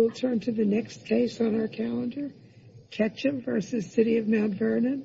We will turn to the next case on our calendar, Ketcham v. City of Mount Vernon,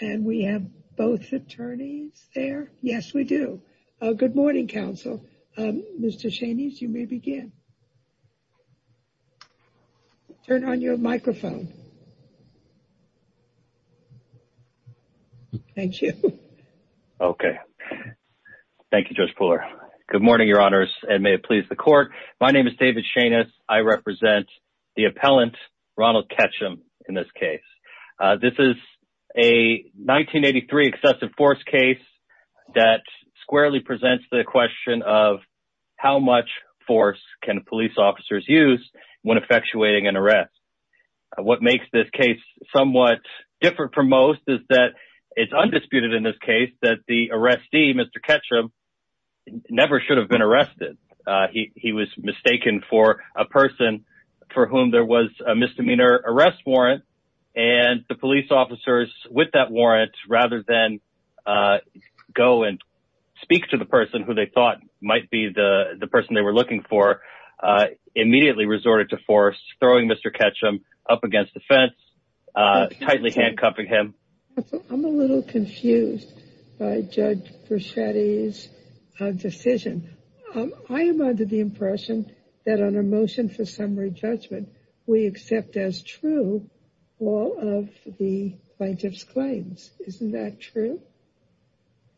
and we have both attorneys there. Yes, we do. Good morning, counsel. Mr. Shanys, you may begin. Turn on your microphone. Thank you. Okay. Thank you, Judge Pooler. Good morning, your honors, and may it please the court. My name is David Shanys. I represent the appellant, Ronald Ketcham, in this case. This is a 1983 excessive force case that squarely presents the question of how much force can police officers use when effectuating an arrest. What makes this case somewhat different from most is that it's undisputed in this case that the arrestee, Mr. Ketcham, never should have been arrested. He was mistaken for a person for whom there was a misdemeanor arrest warrant, and the police officers, with that warrant, rather than go and speak to the person who they thought might be the person they were looking for, immediately resorted to force, throwing Mr. Ketcham up against the fence, tightly handcuffing him. I'm a little confused by Judge Bruschetti's decision. I am under the impression that on a motion for summary judgment, we accept as true all of the plaintiff's claims. Isn't that true?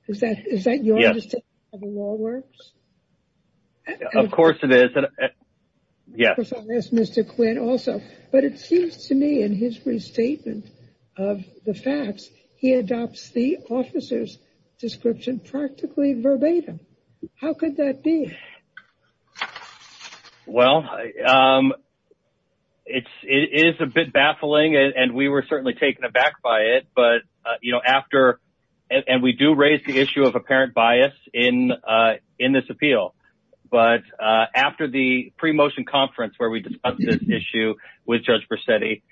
Is that your understanding of how the law works? Of course it is. Yes. Of course, I'll ask Mr. Quinn also, but it seems to me in his restatement of the facts, he adopts the practically verbatim. How could that be? Well, it is a bit baffling, and we were certainly taken aback by it, and we do raise the issue of apparent bias in this appeal. But after the pre-motion conference where we discussed this issue with Judge Bruschetti,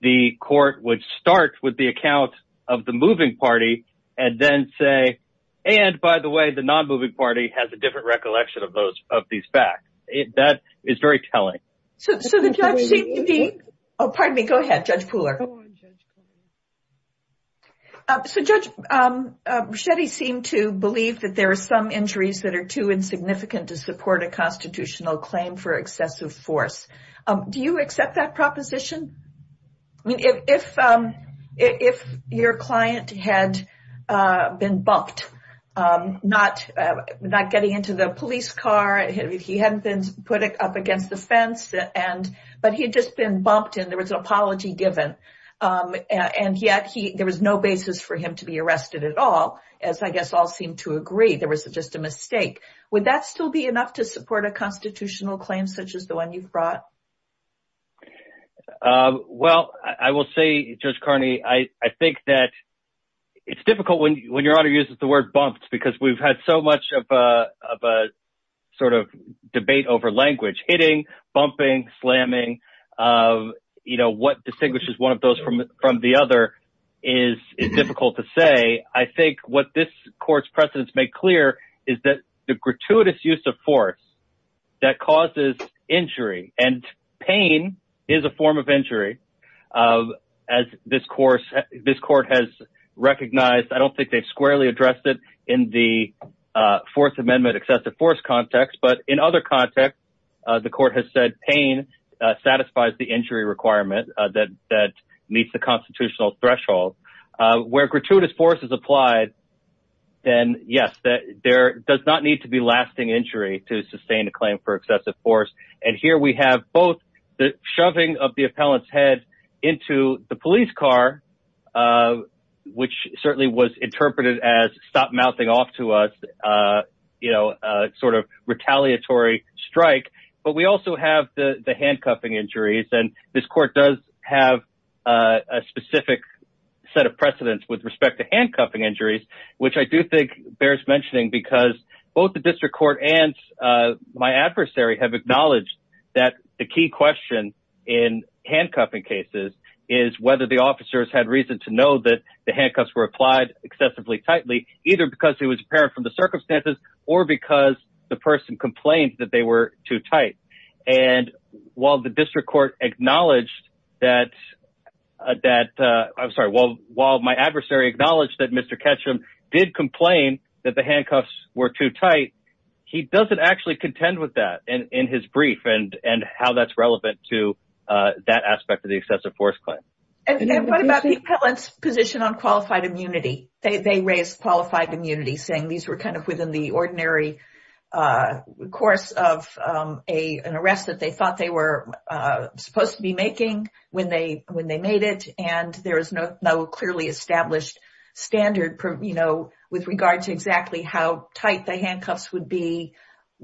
the court would start with the account of the moving party, and then say, and by the way, the non-moving party has a different recollection of these facts. That is very telling. So the judge seemed to be... Oh, pardon me. Go ahead, Judge Pooler. Go on, Judge Pooler. So Judge Bruschetti seemed to believe that there are some injuries that are too insignificant to support a proposition. If your client had been bumped, not getting into the police car, he hadn't been put up against the fence, but he had just been bumped and there was an apology given, and yet there was no basis for him to be arrested at all, as I guess all seem to agree. There was just a mistake. Would that still be enough to support a constitutional claim such as the one you've brought? Well, I will say, Judge Carney, I think that it's difficult when your honor uses the word bumped, because we've had so much of a sort of debate over language. Hitting, bumping, slamming, you know, what distinguishes one of those from the other is difficult to say. I think what this court's precedents make clear is that the gratuitous use of force that pain is a form of injury. As this court has recognized, I don't think they've squarely addressed it in the Fourth Amendment excessive force context, but in other contexts, the court has said pain satisfies the injury requirement that meets the constitutional threshold. Where gratuitous force is applied, then yes, there does not need to be lasting injury to sustain a claim for excessive force. And here we have both the shoving of the appellant's head into the police car, which certainly was interpreted as stop mouthing off to us, you know, sort of retaliatory strike. But we also have the handcuffing injuries. And this court does have a specific set of precedents with respect to handcuffing and my adversary have acknowledged that the key question in handcuffing cases is whether the officers had reason to know that the handcuffs were applied excessively tightly, either because it was apparent from the circumstances or because the person complained that they were too tight. And while the district court acknowledged that that I'm sorry, while while my doesn't actually contend with that in his brief and and how that's relevant to that aspect of the excessive force claim. And what about the appellant's position on qualified immunity? They raised qualified immunity saying these were kind of within the ordinary course of a an arrest that they thought they were supposed to be making when they when they made it and there is no clearly established standard, you know, with regard to exactly how tight the handcuffs would be,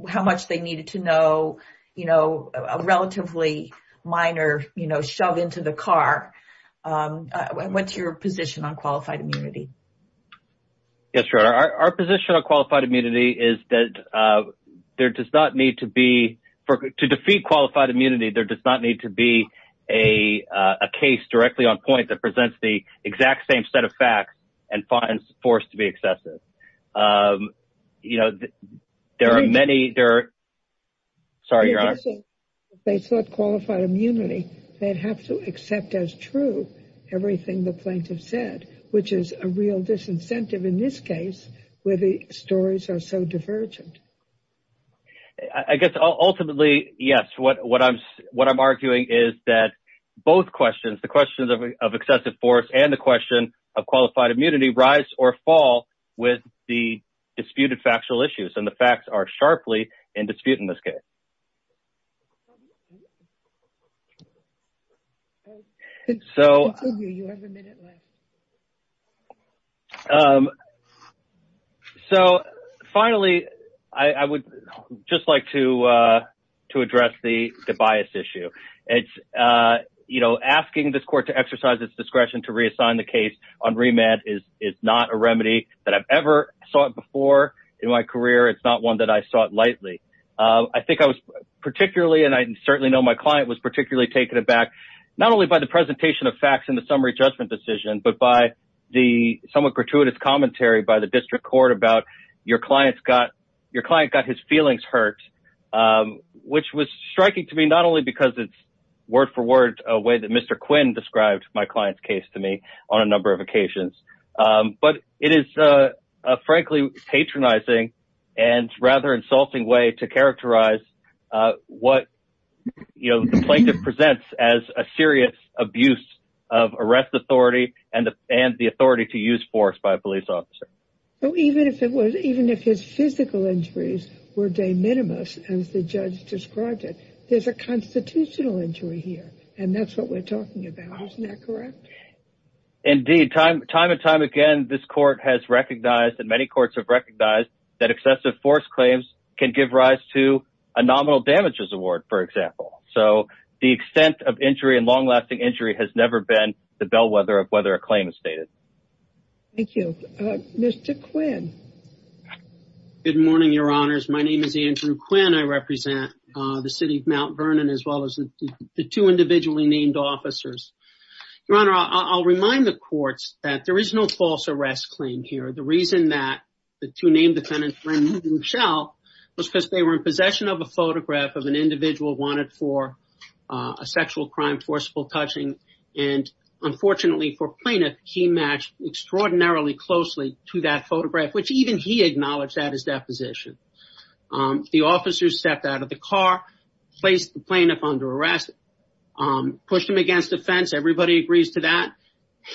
how much they needed to know, you know, a relatively minor, you know, shove into the car. What's your position on qualified immunity? Yes, sure. Our position on qualified immunity is that there does not need to be for to defeat qualified immunity, there does not need to be a case directly on point that presents the exact same set of facts and finds forced to be excessive. You know, there are many there. Sorry, your honor. They thought qualified immunity, they'd have to accept as true everything the plaintiff said, which is a real disincentive in this case, where the stories are so divergent. I guess ultimately, yes, what what I'm, what I'm arguing is that both questions, the questions of excessive force and the question of qualified immunity rise or fall with the disputed factual issues and the facts are sharply in dispute in this case. So you have a minute left. So finally, I would just like to, to address the bias issue. It's, you know, asking this court to exercise its discretion to reassign the case on remand is is not a remedy that I've ever sought before in my career. It's not one that I sought lightly. I think I was particularly and I think I was particularly struck not by the facts in the summary judgment decision, but by the somewhat gratuitous commentary by the district court about your clients got your client got his feelings hurt, which was striking to me, not only because it's word for word, a way that Mr. Quinn described my client's case to me on a number of occasions. But it is, frankly, patronizing and rather insulting way to characterize what, you know, the plaintiff presents as a serious abuse of arrest authority and the and the authority to use force by a police officer. So even if it was even if his physical injuries were de minimis, as the judge described it, there's a constitutional injury here. And that's what we're talking about. Isn't that correct? Indeed, time time and time again, this court has recognized that many courts have recognized that excessive force claims can give rise to a nominal damages award, for example. So the extent of injury and long lasting injury has never been the bellwether of whether a claim is stated. Thank you, Mr. Quinn. Good morning, Your Honors. My name is Andrew Quinn. I represent the city of Mount Vernon as well as the two individually named officers. Your Honor, I'll remind the courts that there is no false arrest claim here. The reason that the two named defendants were in the shell was because they were in possession of a photograph of an individual wanted for a sexual crime, forcible touching. And unfortunately for plaintiff, he matched extraordinarily closely to that photograph, which even he acknowledged at his deposition. The officers stepped out of the car, placed the plaintiff under arrest, pushed him against the fence. Everybody agrees to that.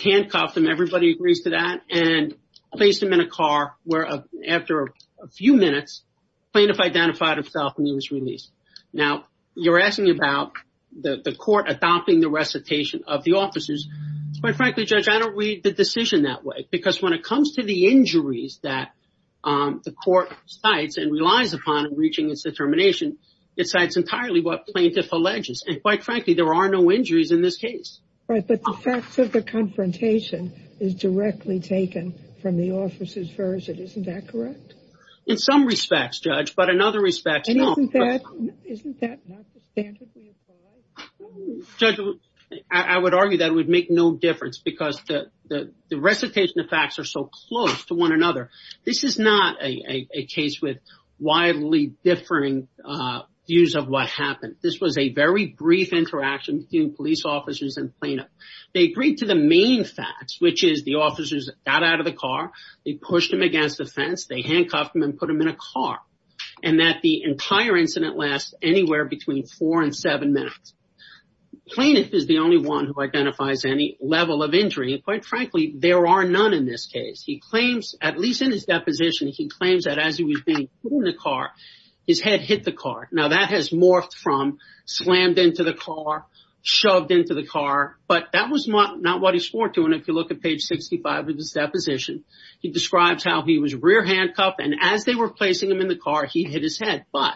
Handcuffed him. Everybody agrees to that and placed him in a car where after a few minutes, plaintiff identified himself and he was released. Now, you're asking about the court adopting the recitation of the officers. Quite frankly, Judge, I don't read the decision that way because when it comes to the injuries that the court cites and relies upon in reaching its determination, it cites entirely what plaintiff alleges. And quite frankly, there are no injuries in this case. Right. But the facts of the confrontation is directly taken from the officers version. Isn't that correct? In some respects, Judge, but in other respects, isn't that not the standard we apply? Judge, I would argue that would make no difference because the recitation of facts are so close to one another. This is not a case with widely differing views of what happened. This was a very brief interaction between police officers and plaintiff. They agreed to the main facts, which is the officers got out of the car. They pushed him against the fence. They handcuffed him and put him in a car. And that the entire incident lasts anywhere between four and seven minutes. Plaintiff is the only one who identifies any level of injury. And quite frankly, there are none in this case. He claims, at least in his deposition, he claims that as he was in the car, his head hit the car. Now that has morphed from slammed into the car, shoved into the car. But that was not what he swore to. And if you look at page 65 of his deposition, he describes how he was rear handcuffed. And as they were placing him in the car, he hit his head. But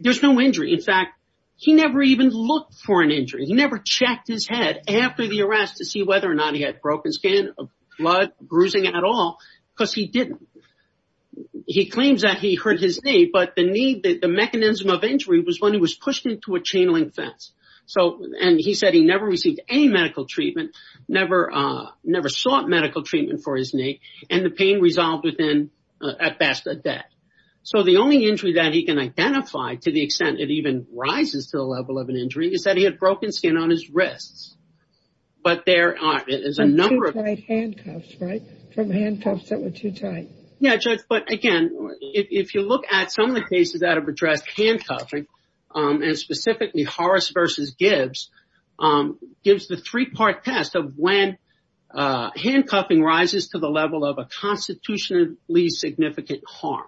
there's no injury. In fact, he never even looked for an injury. He never checked his head after the arrest to see whether or not he had broken skin, blood, bruising at all, because he didn't. He claims that he hurt his knee, but the knee, the mechanism of injury was when he was pushed into a chain link fence. So and he said he never received any medical treatment, never, never sought medical treatment for his knee. And the pain resolved within at best a day. So the only injury that he can identify to the extent it even rises to the level of an injury is that he had broken skin on his wrists. But there is a number of handcuffs, right? From handcuffs that were too tight. Yeah, Judge. But again, if you look at some of the cases that have addressed handcuffing, and specifically Horace versus Gibbs, gives the three part test of when handcuffing rises to the level of a constitutionally significant harm.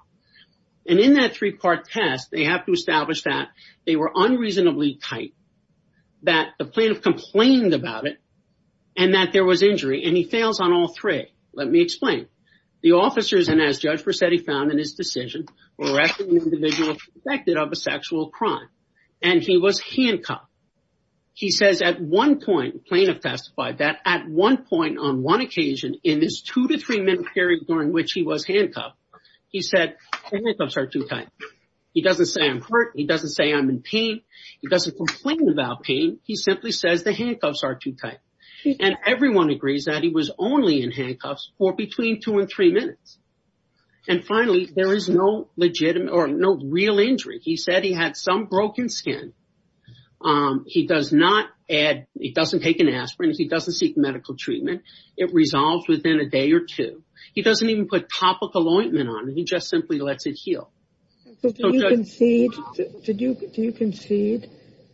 And in that three part test, they have to establish that they were unreasonably tight, that the plaintiff complained about it, and that there was injury and he fails on all three. Let me explain. The officers and as Judge Percedi found in his decision, arrested an individual suspected of a sexual crime, and he was handcuffed. He says at one point, plaintiff doesn't say I'm hurt. He doesn't say I'm in pain. He doesn't complain about pain. He simply says the handcuffs are too tight. And everyone agrees that he was only in handcuffs for between two and three minutes. And finally, there is no legitimate or no real injury. He said he had some broken skin. He does not add, he doesn't take an aspirin. He doesn't seek medical treatment. It resolves within a day or two. He doesn't even put topical ointment on and he just simply lets it heal. So do you concede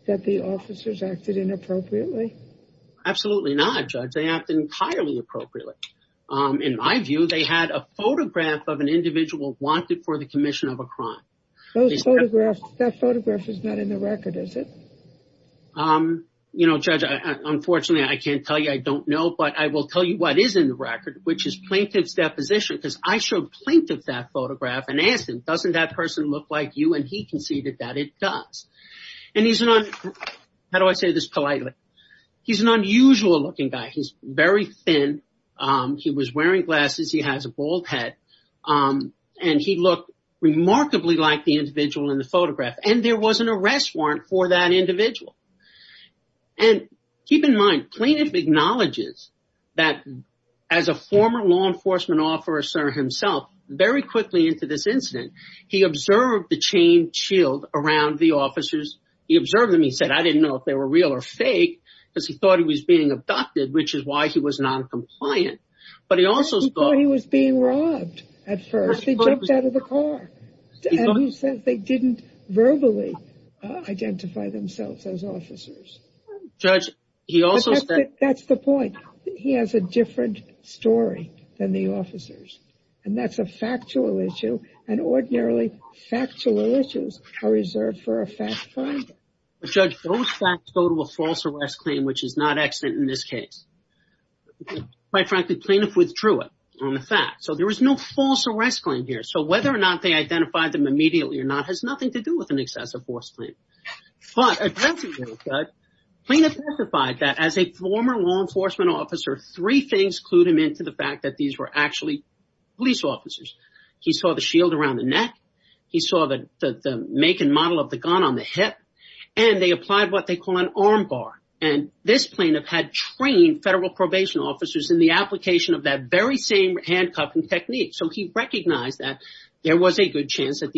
that the officers acted inappropriately? Absolutely not, Judge. They acted entirely appropriately. In my view, they had a photograph of an individual wanted for the commission of a crime. That photograph is not in the record, is it? Um, you know, Judge, unfortunately, I can't tell you. I don't know. But I will tell you what is in the record, which is plaintiff's deposition, because I showed plaintiff that photograph and asked him, doesn't that person look like you? And he conceded that it does. And he's not. How do I say this politely? He's an unusual looking guy. He's very thin. He was wearing glasses. He has a bald head. And he looked remarkably like the individual in the photograph. And there was an arrest warrant for that individual. And keep in mind, plaintiff acknowledges that as a former law enforcement officer himself, very quickly into this incident, he was abducted, which is why he was noncompliant. But he also thought he was being robbed. At first, he jumped out of the car. He said they didn't verbally identify themselves as officers. That's the point. He has a different story than the officers. And that's a factual issue. And ordinarily, factual issues are reserved for a false arrest claim, which is not excellent in this case. Quite frankly, plaintiff withdrew it on the fact. So there was no false arrest claim here. So whether or not they identified them immediately or not has nothing to do with an excessive force claim. But plaintiff testified that as a former law enforcement officer, three things clued him into the fact that these were actually police officers. He saw the shield around the neck. He saw the make and model of the gun on the hip. And they applied what they call an arm bar. And this plaintiff had trained federal probation officers in the application of that very same handcuffing technique. So he recognized that there was a good reason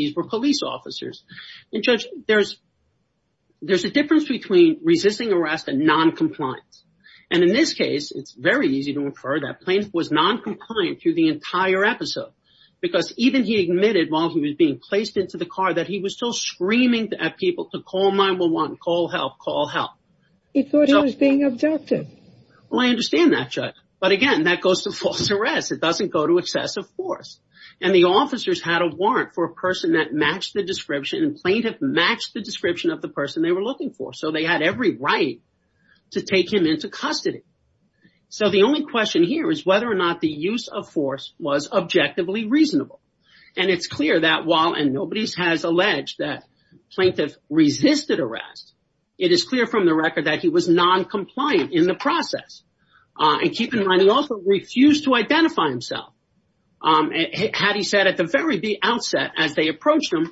for that. Plaintiff was noncompliant through the entire episode, because even he admitted while he was being placed into the car that he was still screaming at people to call 911, call help, call help. He thought he was being abducted. Well, I understand that, Judge. But again, that goes to false arrest. It doesn't go to excessive force. And the officers had a warrant for a person that matched the description. And plaintiff matched the description of the person they were looking for. So they had every right to take him into custody. So the only question here is whether or not the use of force was objectively reasonable. And it's clear that while, and nobody's has alleged that plaintiff resisted arrest, it is clear from the record that he was noncompliant in the process. And keep in mind, he also refused to identify himself. Had he said at the very outset, as they The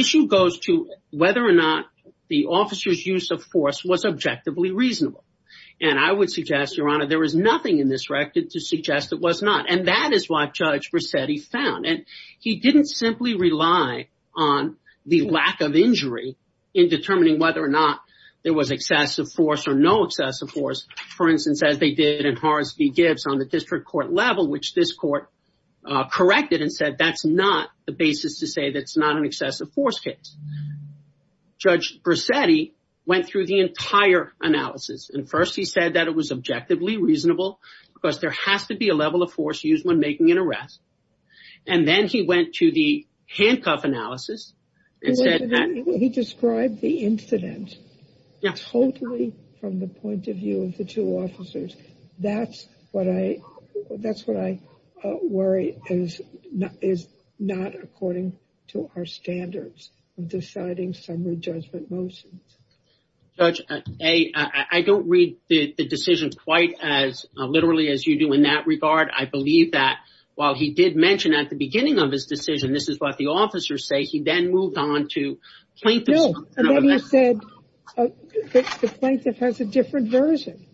issue goes to whether or not the officer's use of force was objectively reasonable. And I would suggest, Your Honor, there was nothing in this record to suggest it was not. And that is what Judge Rossetti found. And he didn't simply rely on the lack of injury in determining whether or not there was excessive force or no excessive force, for instance, as they did in the excessive force case. Judge Rossetti went through the entire analysis. And first, he said that it was objectively reasonable, because there has to be a level of force used when making an arrest. And then he went to the handcuff analysis and said that he described the incident totally from the point of view of the two officers. That's what I that's what I worry is not is not according to our standards of deciding summary judgment motions. Judge, I don't read the decision quite as literally as you do in that regard. I believe that while he did mention at the beginning of his decision, this is what the officers say. He then moved on to plaintiffs. No. And then he said that the plaintiff has a different version.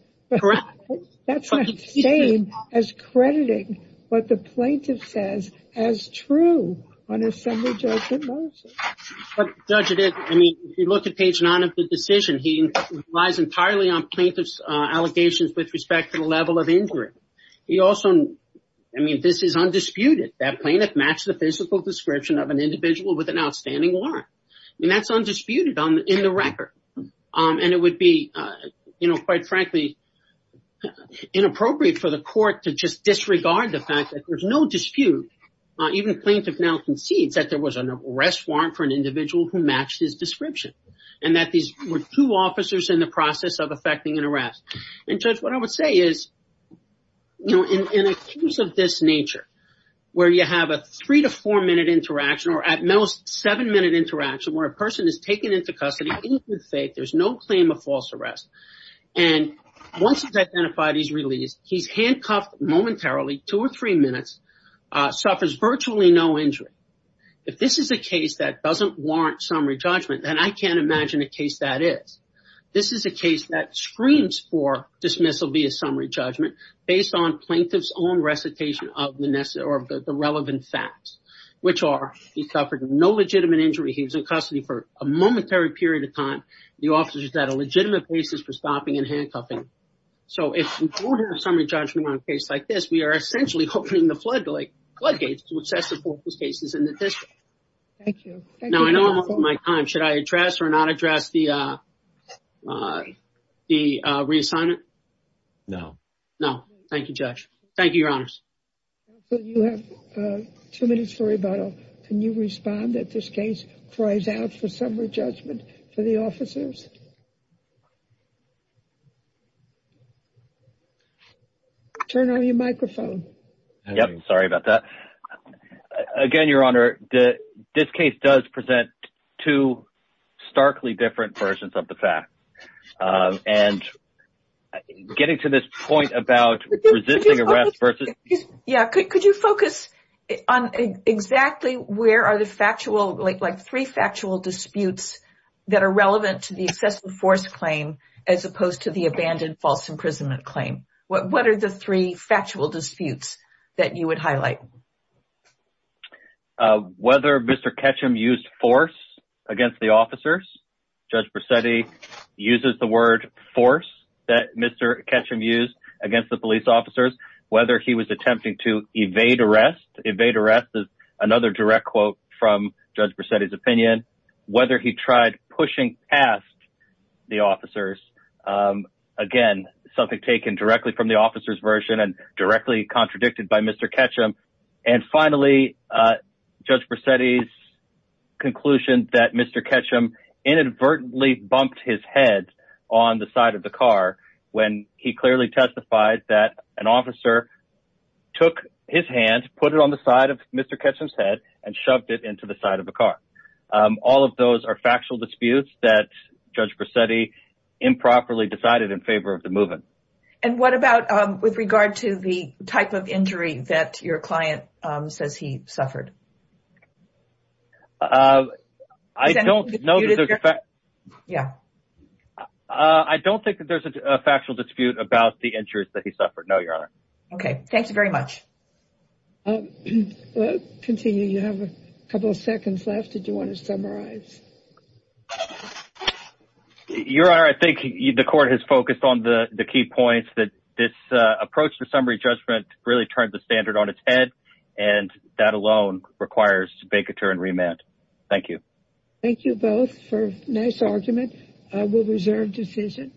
That's not the same as crediting what the plaintiff says as true on a summary judgment motion. But Judge, I mean, if you look at Page 9 of the decision, he relies entirely on plaintiff's allegations with respect to the level of injury. He also, I mean, this is undisputed. That plaintiff matched the physical description of an individual with an outstanding warrant. And that's undisputed in the record. And it would be, you know, quite frankly, inappropriate for the court to just disregard the fact that there's no dispute. Even plaintiff now concedes that there was an arrest warrant for an individual who matched his description and that these were two officers in the process of effecting an arrest. And Judge, what I would say is, you know, in a case of this nature where you have a three to four minute interaction or at most seven minute interaction where a person is taken into custody in good faith, there's no claim of false arrest. And once he's identified, he's released. He's handcuffed momentarily, two or three minutes, suffers virtually no injury. If this is a case that doesn't warrant summary judgment, then I can't imagine a case that is. This is a case that screams for dismissal via summary judgment based on plaintiff's own recitation of the relevant facts, which are he suffered no legitimate injury. He was in custody for a momentary period of time. The officers had a legitimate basis for stopping and handcuffing. So if we don't have summary judgment on a case like this, we are essentially opening the floodgates to assess the cases in the district. Thank you. Now, I know I'm over my time. Should I address or not address the reassignment? No. No. Thank you, Judge. Thank you, Your Honors. Counsel, you have two minutes for rebuttal. Can you respond that this case cries out for summary judgment for the officers? Turn on your microphone. Yep. Sorry about that. Again, Your Honor, this case does present two starkly different versions of the fact. And getting to this point about resisting arrest versus... Yeah. Could you focus on exactly where are the factual, like three factual disputes that are relevant to the excessive force claim as opposed to the abandoned fault? Imprisonment claim. What are the three factual disputes that you would highlight? Whether Mr. Ketchum used force against the officers, Judge Bracetti uses the word force that Mr. Ketchum used against the police officers, whether he was attempting to evade arrest. Evade arrest is another direct quote from Judge Bracetti's opinion, whether he tried pushing past the officers. Again, something taken directly from the officer's version and directly contradicted by Mr. Ketchum. And finally, Judge Bracetti's conclusion that Mr. Ketchum inadvertently bumped his head on the side of the car when he clearly testified that an officer took his hand, put it on the side of Mr. Ketchum's head and shoved it into the side of the car. All of those are factual disputes that Judge Bracetti improperly decided in favor of the move-in. And what about with regard to the type of injury that your client says he suffered? I don't know. Yeah. I don't think that there's a factual dispute about the injuries that he suffered. No, Your Honor. Okay. Thank you very much. I'll continue. You have a couple of seconds left. Did you want to summarize? Your Honor, I think the court has focused on the key points that this approach to summary judgment really turned the standard on its head, and that alone requires vacatur and remand. Thank you. Thank you both for a nice argument. I will reserve decision.